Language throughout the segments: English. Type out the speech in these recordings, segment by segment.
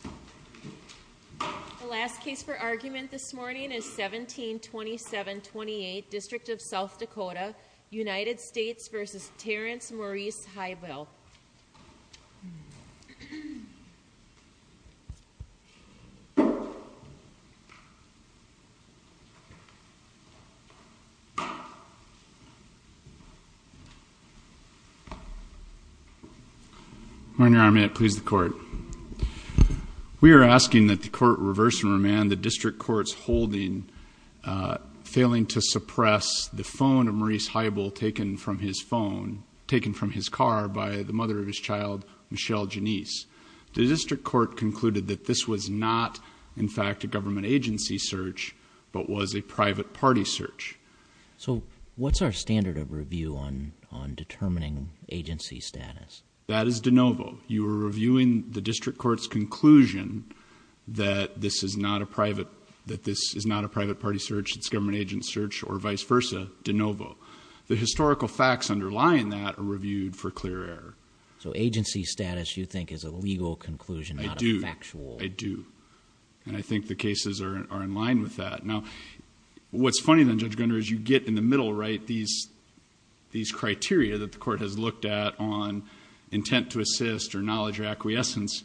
The last case for argument this morning is 1727-28, District of South Dakota, United States v. Terance Morice Highbull. We are asking that the court reverse and remand the district court's holding, failing to suppress the phone of Morice Highbull taken from his phone, taken from his car by the mother of his child, Michelle Janice. The district court concluded that this was not, in fact, a government agency search, but was a private party search. So what's our standard of review on determining agency status? That is de novo. You are reviewing the district court's conclusion that this is not a private party search, it's a government agency search, or vice versa, de novo. The historical facts underlying that are reviewed for clear error. So agency status, you think, is a legal conclusion, not a factual? I do. I do. And I think the cases are in line with that. Now, what's funny then, Judge Gunder, is you get in the middle, right, these criteria that the court has looked at on intent to assist or knowledge or acquiescence.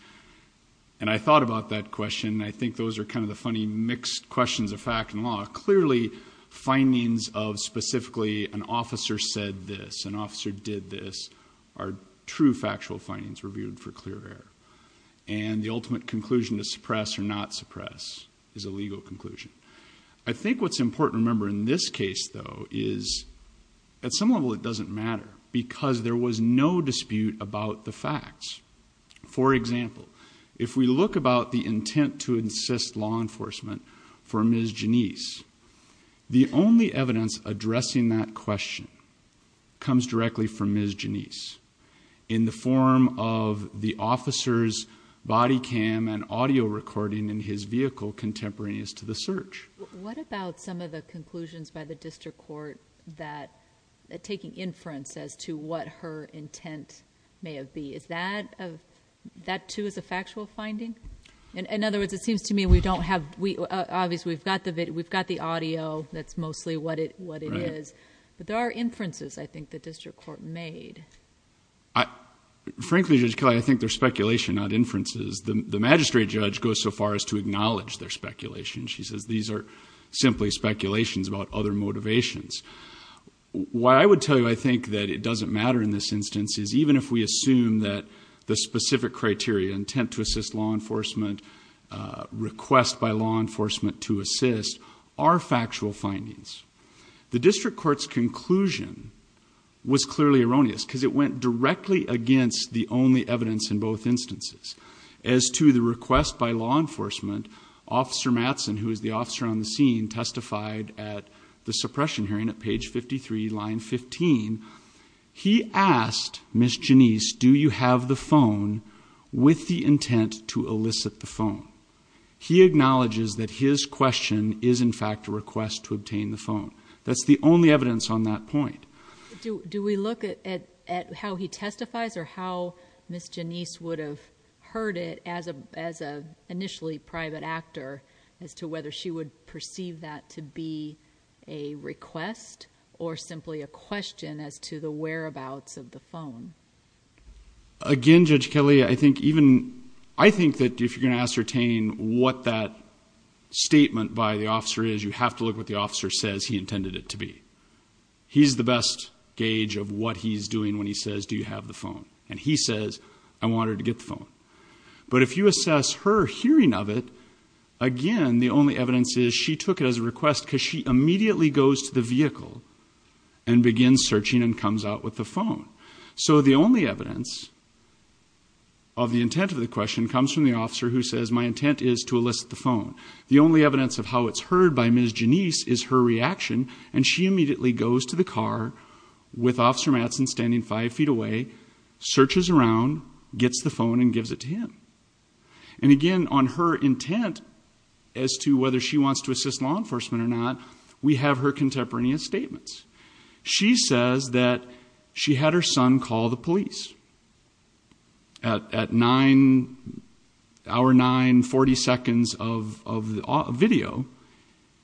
And I thought about that question, and I think those are kind of the funny mixed questions of fact and law. Clearly, findings of specifically an officer said this, an officer did this, are true factual findings reviewed for clear error. And the ultimate conclusion to suppress or not suppress is a legal conclusion. I think what's important to remember in this case, though, is at some level it doesn't matter, because there was no dispute about the facts. For example, if we look about the intent to assist law enforcement for Ms. Janice, the only evidence addressing that question comes directly from Ms. Janice. In the form of the officer's body cam and audio recording in his vehicle contemporaneous to the search. What about some of the conclusions by the district court that, taking inference as to what her intent may have been? Is that too a factual finding? In other words, it seems to me we don't have, obviously we've got the audio, that's mostly what it is. But there are inferences I think the district court made. Frankly, Judge Kelly, I think they're speculation, not inferences. The magistrate judge goes so far as to acknowledge their speculation. She says these are simply speculations about other motivations. What I would tell you I think that it doesn't matter in this instance is even if we assume that the specific criteria, intent to assist law enforcement, request by law enforcement to assist, are factual findings. The district court's conclusion was clearly erroneous because it went directly against the only evidence in both instances. As to the request by law enforcement, Officer Mattson, who is the officer on the scene, testified at the suppression hearing at page 53, line 15. He asked Ms. Janice, do you have the phone with the intent to elicit the phone? He acknowledges that his question is in fact a request to obtain the phone. That's the only evidence on that point. Do we look at how he testifies or how Ms. Janice would have heard it as an initially private actor as to whether she would perceive that to be a request or simply a question as to the whereabouts of the phone? Again, Judge Kelly, I think that if you're going to ascertain what that statement by the officer is, you have to look at what the officer says he intended it to be. He's the best gauge of what he's doing when he says, do you have the phone? And he says, I want her to get the phone. But if you assess her hearing of it, again, the only evidence is she took it as a request because she immediately goes to the vehicle and begins searching and comes out with the phone. So the only evidence of the intent of the question comes from the officer who says my intent is to elicit the phone. The only evidence of how it's heard by Ms. Janice is her reaction. And she immediately goes to the car with Officer Mattson standing five feet away, searches around, gets the phone and gives it to him. And again, on her intent as to whether she wants to assist law enforcement or not, we have her contemporaneous statements. She says that she had her son call the police. At 9, hour 9, 40 seconds of video,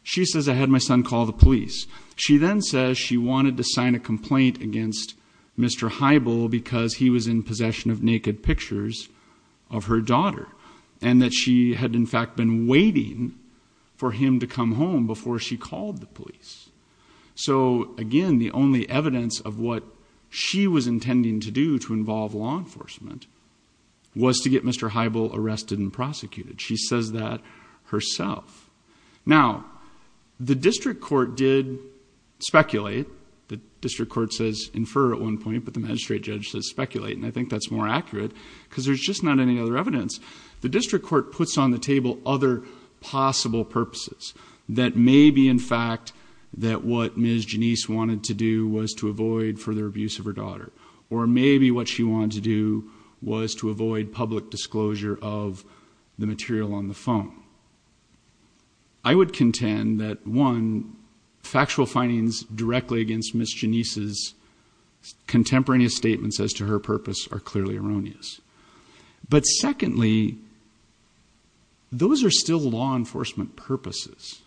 she says I had my son call the police. She then says she wanted to sign a complaint against Mr. Heibel because he was in possession of naked pictures of her daughter. And that she had in fact been waiting for him to come home before she called the police. So again, the only evidence of what she was intending to do to involve law enforcement was to get Mr. Heibel arrested and prosecuted. She says that herself. Now, the district court did speculate. The district court says infer at one point, but the magistrate judge says speculate. And I think that's more accurate because there's just not any other evidence. The district court puts on the table other possible purposes. That maybe in fact that what Ms. Janice wanted to do was to avoid further abuse of her daughter. Or maybe what she wanted to do was to avoid public disclosure of the material on the phone. I would contend that one, factual findings directly against Ms. Janice's contemporaneous statements as to her purpose are clearly erroneous. But secondly, those are still law enforcement purposes.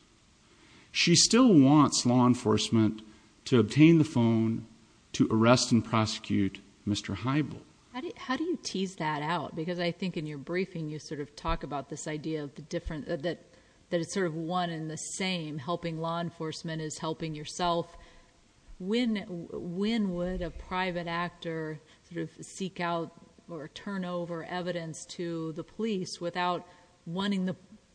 She still wants law enforcement to obtain the phone to arrest and prosecute Mr. Heibel. How do you tease that out? Because I think in your briefing you sort of talk about this idea that it's sort of one and the same. Helping law enforcement is helping yourself. When would a private actor seek out or turn over evidence to the police without wanting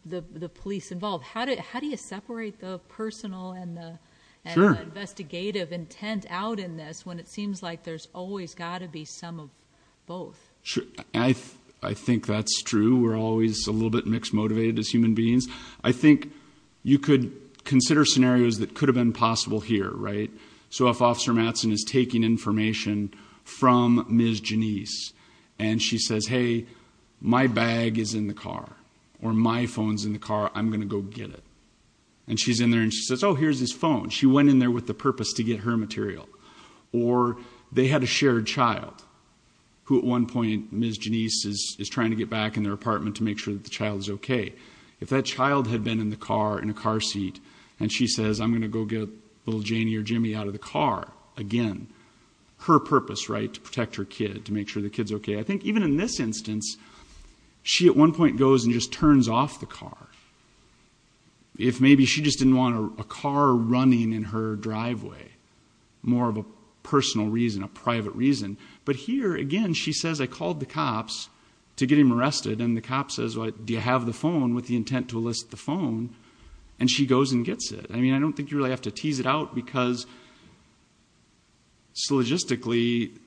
the police involved? How do you separate the personal and the investigative intent out in this when it seems like there's always got to be some of both? I think that's true. We're always a little bit mixed motivated as human beings. I think you could consider scenarios that could have been possible here, right? So if Officer Mattson is taking information from Ms. Janice and she says, hey, my bag is in the car or my phone's in the car, I'm going to go get it. And she's in there and she says, oh, here's his phone. She went in there with the purpose to get her material. Or they had a shared child who at one point Ms. Janice is trying to get back in their apartment to make sure that the child is okay. If that child had been in the car, in a car seat, and she says, I'm going to go get little Janie or Jimmy out of the car, again, her purpose, right? To protect her kid, to make sure the kid's okay. I think even in this instance, she at one point goes and just turns off the car. If maybe she just didn't want a car running in her driveway, more of a personal reason, a private reason. But here, again, she says, I called the cops to get him arrested. And the cop says, well, do you have the phone with the intent to elicit the phone? And she goes and gets it. I mean, I don't think you really have to tease it out because logistically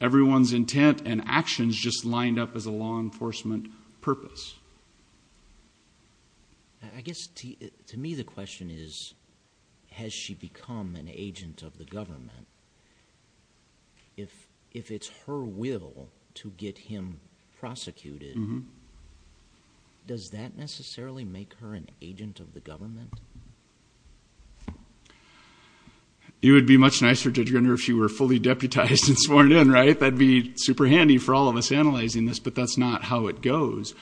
everyone's intent and actions just lined up as a law enforcement purpose. I guess to me the question is, has she become an agent of the government? If it's her will to get him prosecuted, does that necessarily make her an agent of the government? It would be much nicer to get her if she were fully deputized and sworn in, right? That'd be super handy for all of us analyzing this, but that's not how it goes.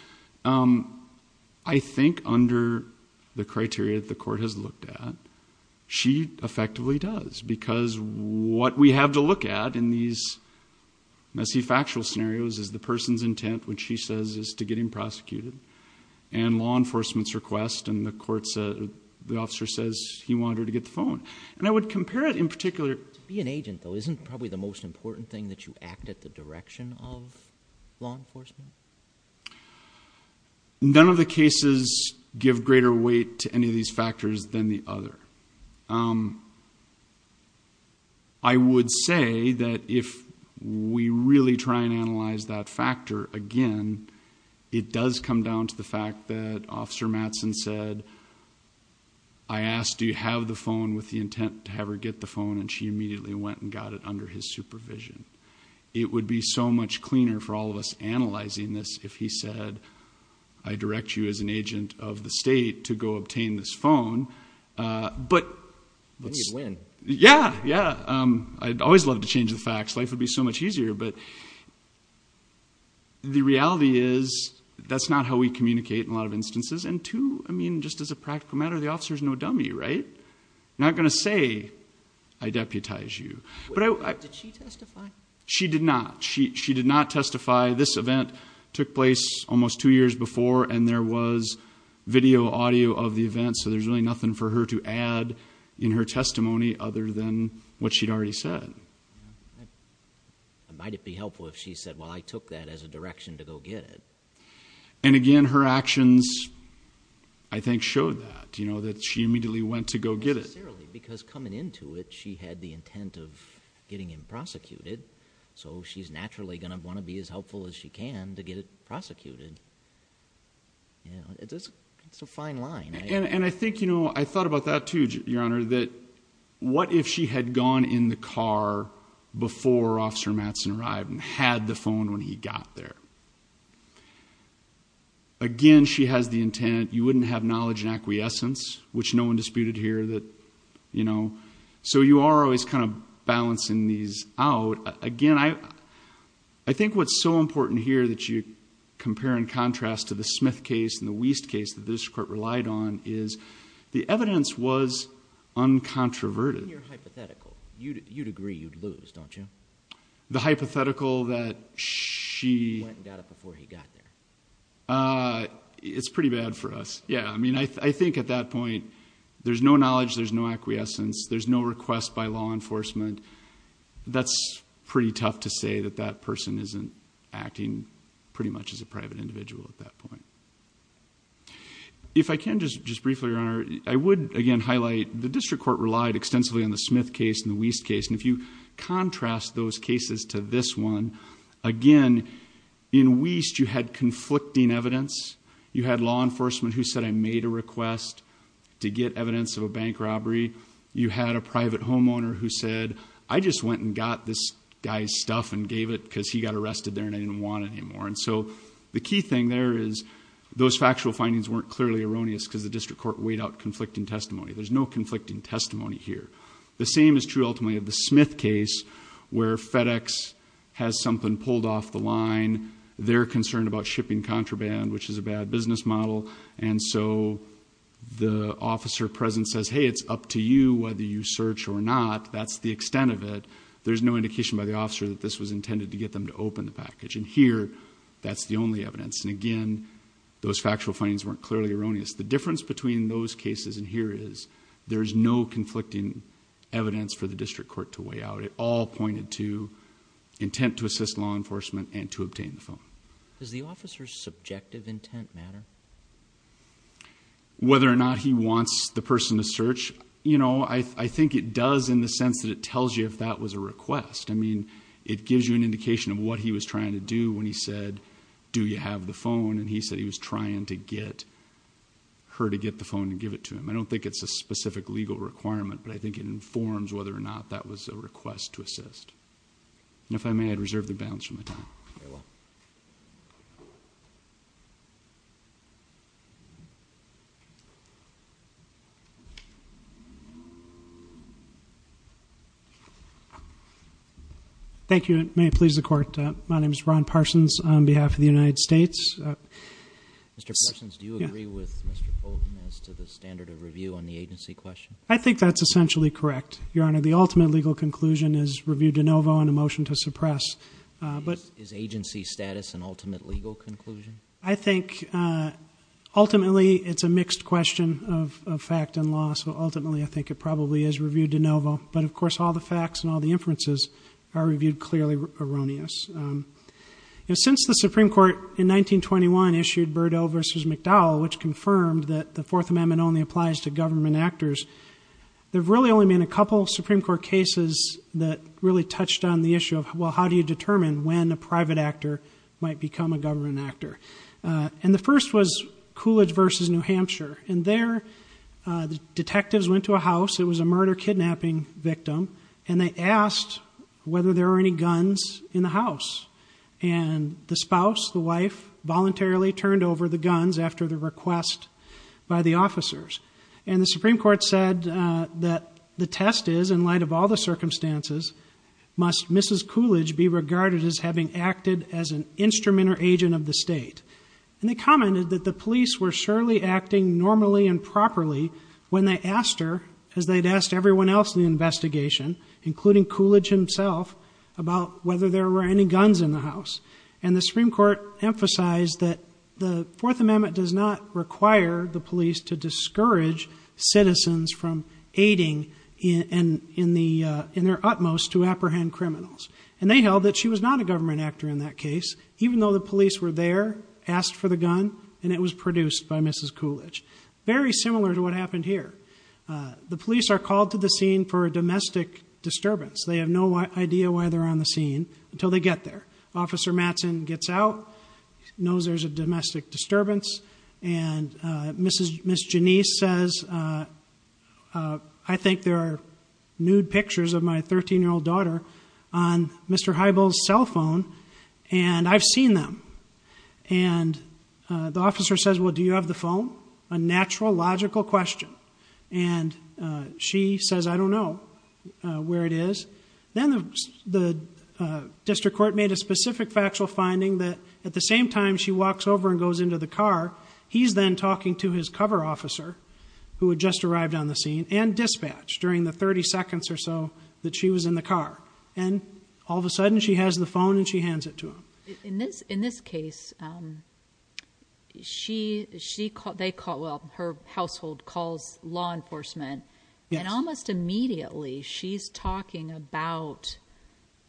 I think under the criteria that the court has looked at, she effectively does. Because what we have to look at in these messy factual scenarios is the person's intent, which she says is to get him prosecuted, and law enforcement's request, and the officer says he wanted her to get the phone. And I would compare it in particular. To be an agent, though, isn't probably the most important thing that you act at the direction of law enforcement? None of the cases give greater weight to any of these factors than the other. I would say that if we really try and analyze that factor again, it does come down to the fact that Officer Mattson said, I asked, do you have the phone with the intent to have her get the phone, and she immediately went and got it under his supervision. It would be so much cleaner for all of us analyzing this if he said, I direct you as an agent of the state to go obtain this phone. I think he'd win. Yeah, yeah. I'd always love to change the facts. Life would be so much easier. But the reality is, that's not how we communicate in a lot of instances. And two, I mean, just as a practical matter, the officer's no dummy, right? Not going to say, I deputize you. Did she testify? She did not. She did not testify. This event took place almost two years before, and there was video audio of the event, so there's really nothing for her to add in her testimony other than what she'd already said. Might it be helpful if she said, well, I took that as a direction to go get it? And again, her actions, I think, showed that, that she immediately went to go get it. Because coming into it, she had the intent of getting him prosecuted, so she's naturally going to want to be as helpful as she can to get it prosecuted. It's a fine line. And I think, you know, I thought about that too, Your Honor, that what if she had gone in the car before Officer Mattson arrived and had the phone when he got there? Again, she has the intent. You wouldn't have knowledge and acquiescence, which no one disputed here. So you are always kind of balancing these out. So again, I think what's so important here that you compare and contrast to the Smith case and the Wiest case that the district court relied on is the evidence was uncontroverted. In your hypothetical, you'd agree you'd lose, don't you? The hypothetical that she- Went and got it before he got there. It's pretty bad for us, yeah. I mean, I think at that point, there's no knowledge, there's no acquiescence, there's no request by law enforcement. That's pretty tough to say that that person isn't acting pretty much as a private individual at that point. If I can just briefly, Your Honor, I would again highlight the district court relied extensively on the Smith case and the Wiest case. And if you contrast those cases to this one, again, in Wiest, you had conflicting evidence. You had law enforcement who said, I made a request to get evidence of a bank robbery. You had a private homeowner who said, I just went and got this guy's stuff and gave it because he got arrested there and I didn't want it anymore. And so the key thing there is those factual findings weren't clearly erroneous because the district court weighed out conflicting testimony. There's no conflicting testimony here. The same is true, ultimately, of the Smith case where FedEx has something pulled off the line. They're concerned about shipping contraband, which is a bad business model. And so the officer present says, hey, it's up to you whether you search or not. That's the extent of it. There's no indication by the officer that this was intended to get them to open the package. And here, that's the only evidence. And again, those factual findings weren't clearly erroneous. The difference between those cases and here is there is no conflicting evidence for the district court to weigh out. It all pointed to intent to assist law enforcement and to obtain the phone. Does the officer's subjective intent matter? Whether or not he wants the person to search, you know, I think it does in the sense that it tells you if that was a request. I mean, it gives you an indication of what he was trying to do when he said, do you have the phone? And he said he was trying to get her to get the phone and give it to him. I don't think it's a specific legal requirement, but I think it informs whether or not that was a request to assist. And if I may, I'd reserve the balance for my time. Very well. Thank you, and may it please the Court, my name is Ron Parsons on behalf of the United States. Mr. Parsons, do you agree with Mr. Fulton as to the standard of review on the agency question? I think that's essentially correct, Your Honor. The ultimate legal conclusion is review de novo and a motion to suppress. Is agency status an ultimate legal conclusion? I think ultimately it's a mixed question of fact and law, so ultimately I think it probably is review de novo. But, of course, all the facts and all the inferences are reviewed clearly erroneous. Since the Supreme Court in 1921 issued Birdell v. McDowell, which confirmed that the Fourth Amendment only applies to government actors, there have really only been a couple of Supreme Court cases that really touched on the issue of, well, how do you determine when a private actor might become a government actor? And the first was Coolidge v. New Hampshire, and there the detectives went to a house, it was a murder-kidnapping victim, and they asked whether there were any guns in the house. And the spouse, the wife, voluntarily turned over the guns after the request by the officers. And the Supreme Court said that the test is, in light of all the circumstances, must Mrs. Coolidge be regarded as having acted as an instrument or agent of the state. And they commented that the police were surely acting normally and properly when they asked her, as they'd asked everyone else in the investigation, including Coolidge himself, about whether there were any guns in the house. And the Supreme Court emphasized that the Fourth Amendment does not require the police to discourage citizens from aiding in their utmost to apprehend criminals. And they held that she was not a government actor in that case, even though the police were there, asked for the gun, and it was produced by Mrs. Coolidge. Very similar to what happened here. The police are called to the scene for a domestic disturbance. They have no idea why they're on the scene until they get there. Officer Mattson gets out, knows there's a domestic disturbance, and Ms. Janice says, I think there are nude pictures of my 13-year-old daughter on Mr. Heibel's cell phone, and I've seen them. And the officer says, well, do you have the phone? A natural, logical question. And she says, I don't know where it is. Then the district court made a specific factual finding that at the same time she walks over and goes into the car, he's then talking to his cover officer, who had just arrived on the scene, and dispatched during the 30 seconds or so that she was in the car. And all of a sudden, she has the phone and she hands it to him. In this case, her household calls law enforcement, and almost immediately she's talking about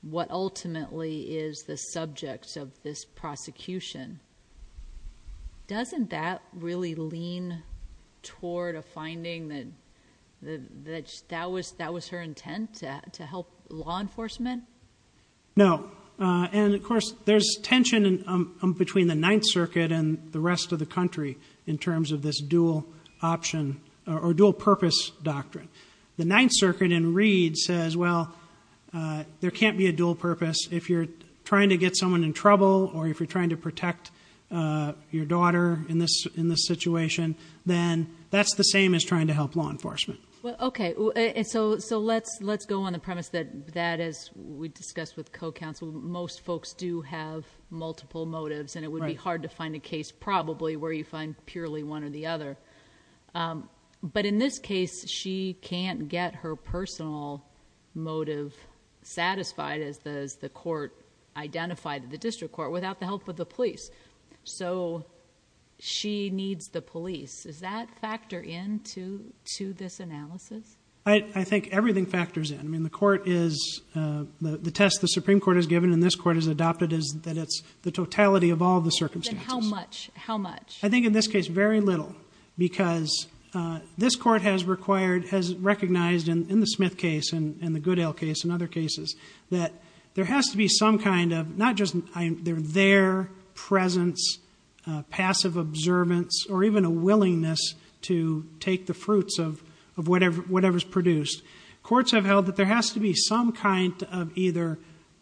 what ultimately is the subject of this prosecution. Doesn't that really lean toward a finding that that was her intent to help law enforcement? No. And, of course, there's tension between the Ninth Circuit and the rest of the country in terms of this dual purpose doctrine. The Ninth Circuit in Reed says, well, there can't be a dual purpose. If you're trying to get someone in trouble or if you're trying to protect your daughter in this situation, then that's the same as trying to help law enforcement. Okay. So let's go on the premise that that, as we discussed with co-counsel, most folks do have multiple motives, and it would be hard to find a case probably where you find purely one or the other. But in this case, she can't get her personal motive satisfied, as the court identified in the district court, without the help of the police. So she needs the police. Does that factor into this analysis? I think everything factors in. I mean, the test the Supreme Court has given and this court has adopted is that it's the totality of all the circumstances. Then how much? How much? I think in this case, very little, because this court has recognized in the Smith case and the Goodell case and other cases that there has to be some kind of not just their presence, passive observance, or even a willingness to take the fruits of whatever's produced. Courts have held that there has to be some kind of either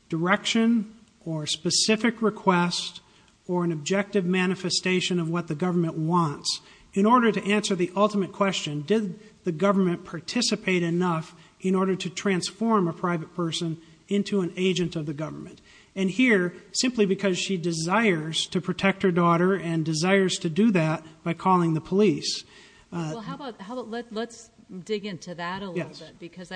direction or specific request or an objective manifestation of what the government wants. In order to answer the ultimate question, did the government participate enough in order to transform a private person into an agent of the government? And here, simply because she desires to protect her daughter and desires to do that by calling the police. Let's dig into that a little bit, because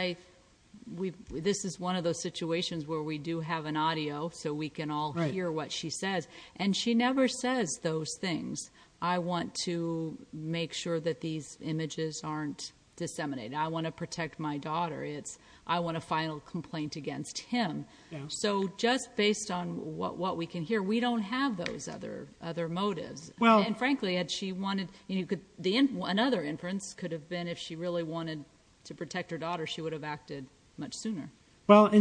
this is one of those situations where we do have an audio so we can all hear what she says, and she never says those things. I want to make sure that these images aren't disseminated. I want to protect my daughter. I want a final complaint against him. So just based on what we can hear, we don't have those other motives. And frankly, another inference could have been if she really wanted to protect her daughter, she would have acted much sooner. Well, and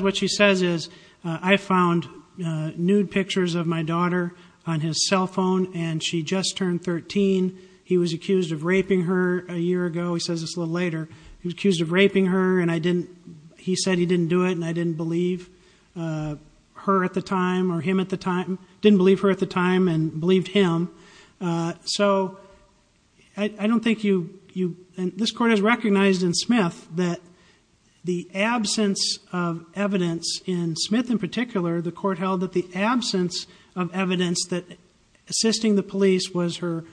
what she says is, I found nude pictures of my daughter on his cell phone, and she just turned 13. He was accused of raping her a year ago. He says this a little later. He was accused of raping her, and he said he didn't do it, and I didn't believe her at the time or him at the time. Didn't believe her at the time and believed him. So I don't think you – and this Court has recognized in Smith that the absence of evidence in Smith in particular, the Court held that the absence of evidence that assisting the police was her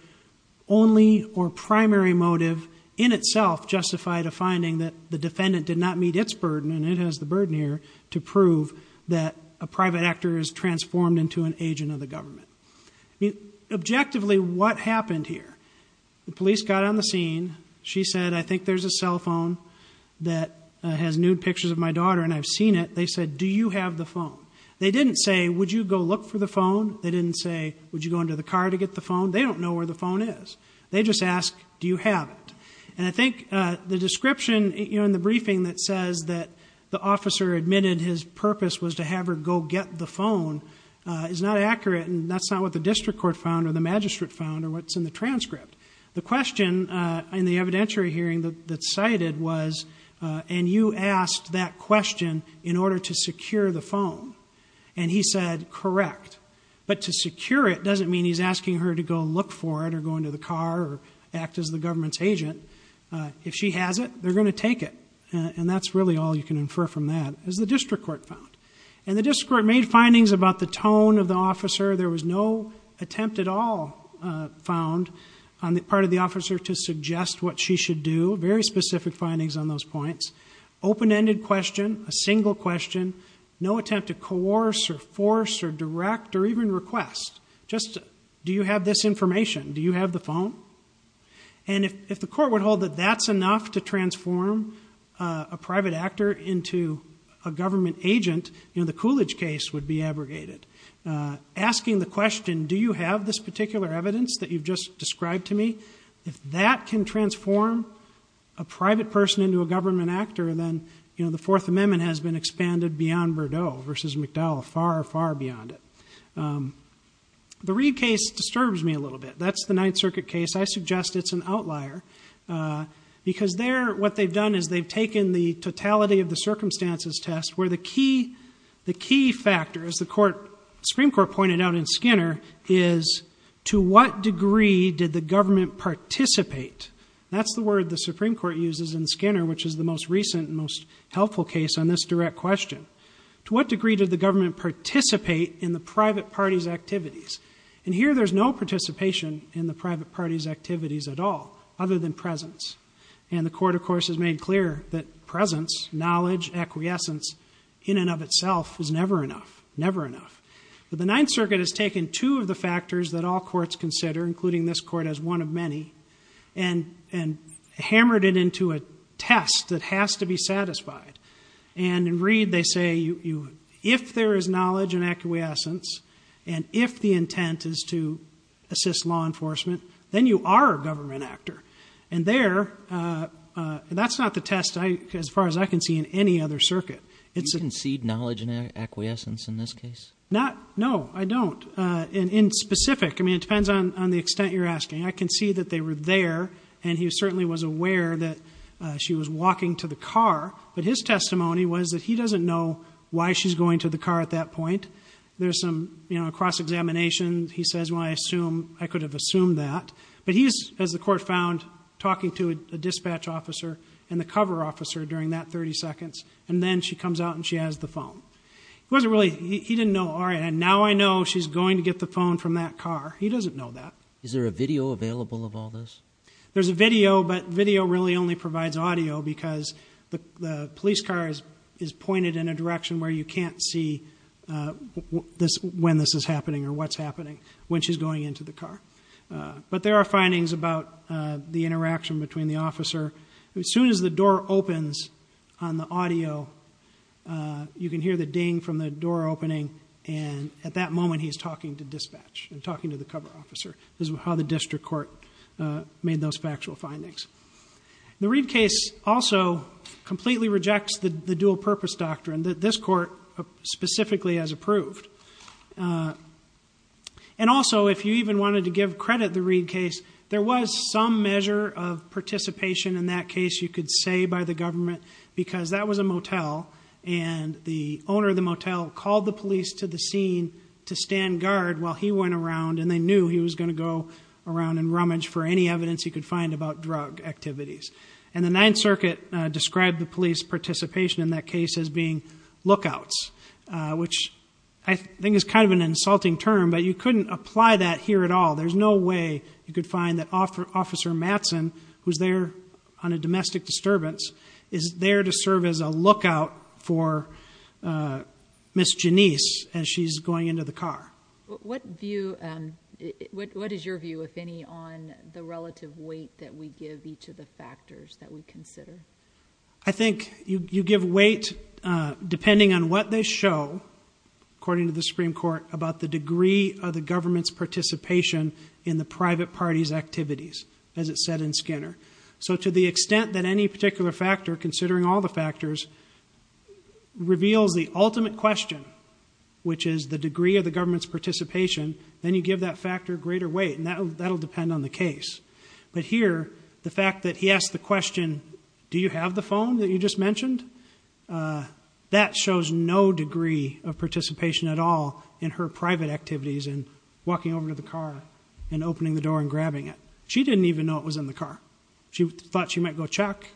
only or primary motive in itself justified a finding that the defendant did not meet its burden, and it has the burden here to prove that a private actor is transformed into an agent of the government. Objectively, what happened here? The police got on the scene. She said, I think there's a cell phone that has nude pictures of my daughter, and I've seen it. They said, do you have the phone? They didn't say, would you go look for the phone? They didn't say, would you go into the car to get the phone? They don't know where the phone is. They just asked, do you have it? And I think the description in the briefing that says that the officer admitted his purpose was to have her go get the phone is not accurate, and that's not what the district court found or the magistrate found or what's in the transcript. The question in the evidentiary hearing that's cited was, and you asked that question in order to secure the phone. And he said, correct. But to secure it doesn't mean he's asking her to go look for it or go into the car or act as the government's agent. If she has it, they're going to take it. And that's really all you can infer from that, as the district court found. And the district court made findings about the tone of the officer. There was no attempt at all found on the part of the officer to suggest what she should do. Very specific findings on those points. Open-ended question, a single question, no attempt to coerce or force or direct or even request. Do you have this information? Do you have the phone? And if the court would hold that that's enough to transform a private actor into a government agent, the Coolidge case would be abrogated. Asking the question, do you have this particular evidence that you've just described to me, if that can transform a private person into a government actor, then the Fourth Amendment has been expanded beyond Bordeaux versus McDowell. Far, far beyond it. The Reed case disturbs me a little bit. That's the Ninth Circuit case. I suggest it's an outlier. Because what they've done is they've taken the totality of the circumstances test where the key factor, as the Supreme Court pointed out in Skinner, is to what degree did the government participate. That's the word the Supreme Court uses in Skinner, which is the most recent and most helpful case on this direct question. To what degree did the government participate in the private party's activities? And here there's no participation in the private party's activities at all, other than presence. And the court, of course, has made clear that presence, knowledge, acquiescence, in and of itself is never enough. Never enough. But the Ninth Circuit has taken two of the factors that all courts consider, including this court, as one of many, and hammered it into a test that has to be satisfied. And in Reed they say if there is knowledge and acquiescence, and if the intent is to assist law enforcement, then you are a government actor. And there, that's not the test as far as I can see in any other circuit. You concede knowledge and acquiescence in this case? No, I don't. In specific, I mean, it depends on the extent you're asking. I can see that they were there, and he certainly was aware that she was walking to the car, but his testimony was that he doesn't know why she's going to the car at that point. There's some cross-examination. He says, well, I assume, I could have assumed that. But he's, as the court found, talking to a dispatch officer and the cover officer during that 30 seconds, and then she comes out and she has the phone. He didn't know, all right, and now I know she's going to get the phone from that car. He doesn't know that. Is there a video available of all this? There's a video, but video really only provides audio because the police car is pointed in a direction where you can't see when this is happening or what's happening when she's going into the car. But there are findings about the interaction between the officer. As soon as the door opens on the audio, you can hear the ding from the door opening, and at that moment he's talking to dispatch and talking to the cover officer. This is how the district court made those factual findings. The Reed case also completely rejects the dual-purpose doctrine that this court specifically has approved. And also, if you even wanted to give credit to the Reed case, there was some measure of participation in that case you could say by the government because that was a motel, and the owner of the motel called the police to the scene to stand guard while he went around, and they knew he was going to go around and rummage for any evidence he could find about drug activities. And the Ninth Circuit described the police participation in that case as being lookouts, which I think is kind of an insulting term, but you couldn't apply that here at all. There's no way you could find that Officer Mattson, who's there on a domestic disturbance, is there to serve as a lookout for Miss Janice as she's going into the car. What is your view, if any, on the relative weight that we give each of the factors that we consider? I think you give weight depending on what they show, according to the Supreme Court, about the degree of the government's participation in the private party's activities, as it said in Skinner. So to the extent that any particular factor, considering all the factors, reveals the ultimate question, which is the degree of the government's participation, then you give that factor greater weight, and that will depend on the case. But here, the fact that he asked the question, Do you have the phone that you just mentioned? That shows no degree of participation at all in her private activities in walking over to the car and opening the door and grabbing it. She didn't even know it was in the car. She thought she might go check.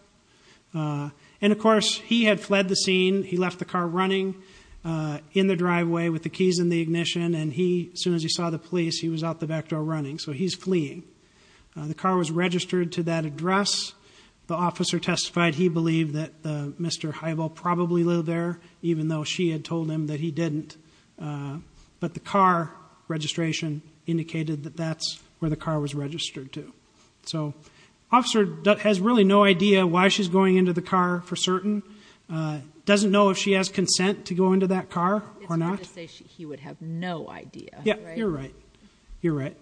And, of course, he had fled the scene. He left the car running in the driveway with the keys in the ignition, and as soon as he saw the police, he was out the back door running. So he's fleeing. The car was registered to that address. The officer testified he believed that Mr. Heibel probably lived there, even though she had told him that he didn't. But the car registration indicated that that's where the car was registered to. So the officer has really no idea why she's going into the car for certain, doesn't know if she has consent to go into that car or not. He would have no idea. Yeah, you're right. You're right.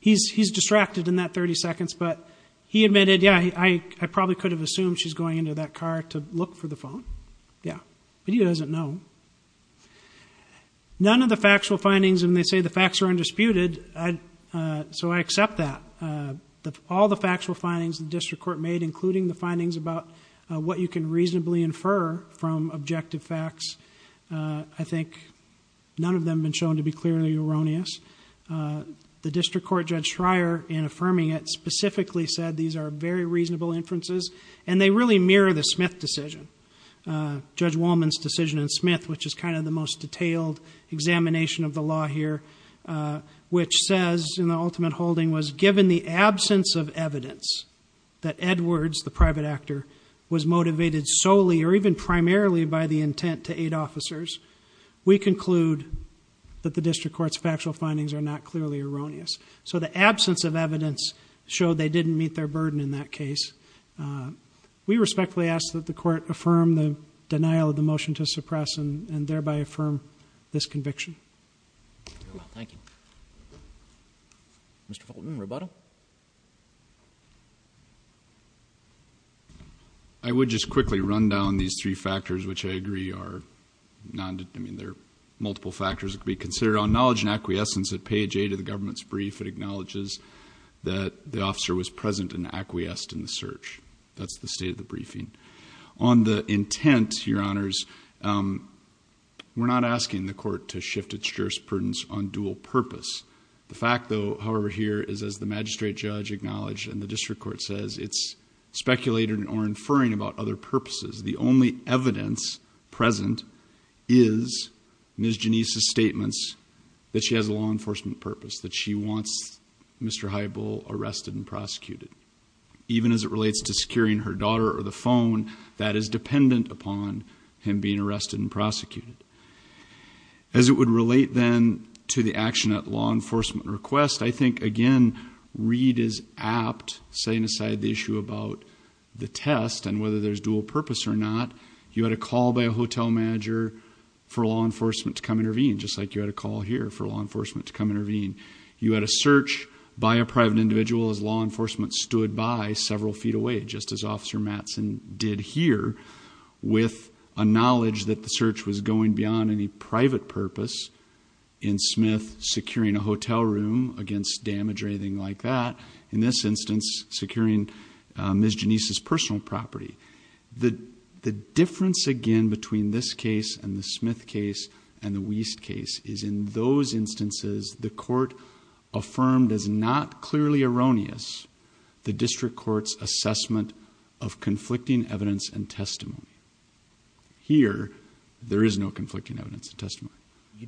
He's distracted in that 30 seconds, but he admitted, yeah, I probably could have assumed she's going into that car to look for the phone. Yeah. But he doesn't know. None of the factual findings, and they say the facts are undisputed, so I accept that. All the factual findings the district court made, including the findings about what you can reasonably infer from objective facts, I think none of them have been shown to be clearly erroneous. The district court, Judge Schreier, in affirming it, specifically said these are very reasonable inferences, and they really mirror the Smith decision, Judge Wolman's decision in Smith, which is kind of the most detailed examination of the law here, which says in the ultimate holding was given the absence of evidence that Edwards, the private actor, was motivated solely or even primarily by the intent to aid officers, we conclude that the district court's factual findings are not clearly erroneous. So the absence of evidence showed they didn't meet their burden in that case. We respectfully ask that the court affirm the denial of the motion to suppress and thereby affirm this conviction. Thank you. Mr. Fulton, rebuttal? I would just quickly run down these three factors, which I agree are multiple factors that could be considered. On knowledge and acquiescence, at page 8 of the government's brief, it acknowledges that the officer was present and acquiesced in the search. That's the state of the briefing. On the intent, Your Honors, we're not asking the court to shift its jurisprudence on dual purpose. The fact, however, here is, as the magistrate judge acknowledged and the district court says, it's speculating or inferring about other purposes. The only evidence present is Ms. Janice's statements that she has a law enforcement purpose, that she wants Mr. Heibel arrested and prosecuted. Even as it relates to securing her daughter or the phone, that is dependent upon him being arrested and prosecuted. As it would relate, then, to the action at law enforcement request, I think, again, Reed is apt, setting aside the issue about the test and whether there's dual purpose or not. You had a call by a hotel manager for law enforcement to come intervene, just like you had a call here for law enforcement to come intervene. You had a search by a private individual as law enforcement stood by several feet away, just as Officer Mattson did here, with a knowledge that the search was going beyond any private purpose. In Smith, securing a hotel room against damage or anything like that. In this instance, securing Ms. Janice's personal property. The difference, again, between this case and the Smith case and the Wiest case is in those instances, the court affirmed as not clearly erroneous the district court's assessment of conflicting evidence and testimony. You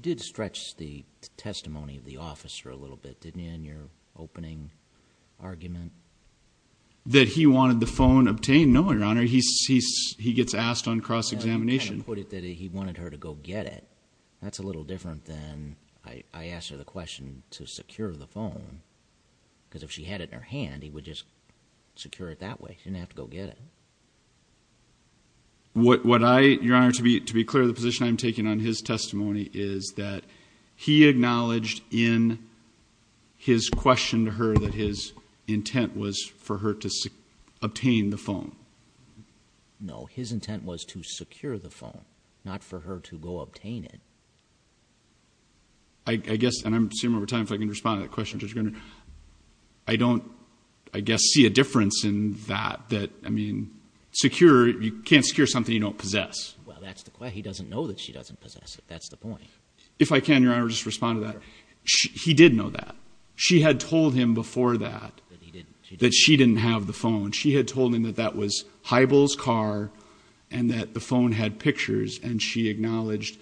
did stretch the testimony of the officer a little bit, didn't you, in your opening argument? That he wanted the phone obtained? No, Your Honor. He gets asked on cross-examination. You kind of put it that he wanted her to go get it. That's a little different than I asked her the question to secure the phone because if she had it in her hand, he would just secure it that way. She didn't have to go get it. What I, Your Honor, to be clear, the position I'm taking on his testimony is that he acknowledged in his question to her that his intent was for her to obtain the phone. No, his intent was to secure the phone, not for her to go obtain it. I guess, and I'm assuming over time if I can respond to that question, I don't, I guess, see a difference in that, that, I mean, secure, you can't secure something you don't possess. Well, that's the question. He doesn't know that she doesn't possess it. That's the point. If I can, Your Honor, just respond to that. He did know that. She had told him before that that she didn't have the phone. She had told him that that was Highbull's car and that the phone had pictures, and she acknowledged,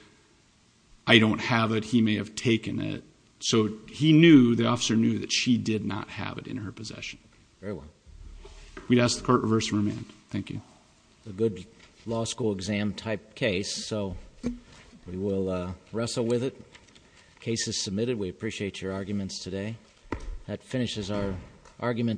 I don't have it. He may have taken it. So he knew, the officer knew that she did not have it in her possession. Very well. We'd ask the Court to reverse the remand. Thank you. It's a good law school exam type case, so we will wrestle with it. The case is submitted. We appreciate your arguments today. That finishes our argument.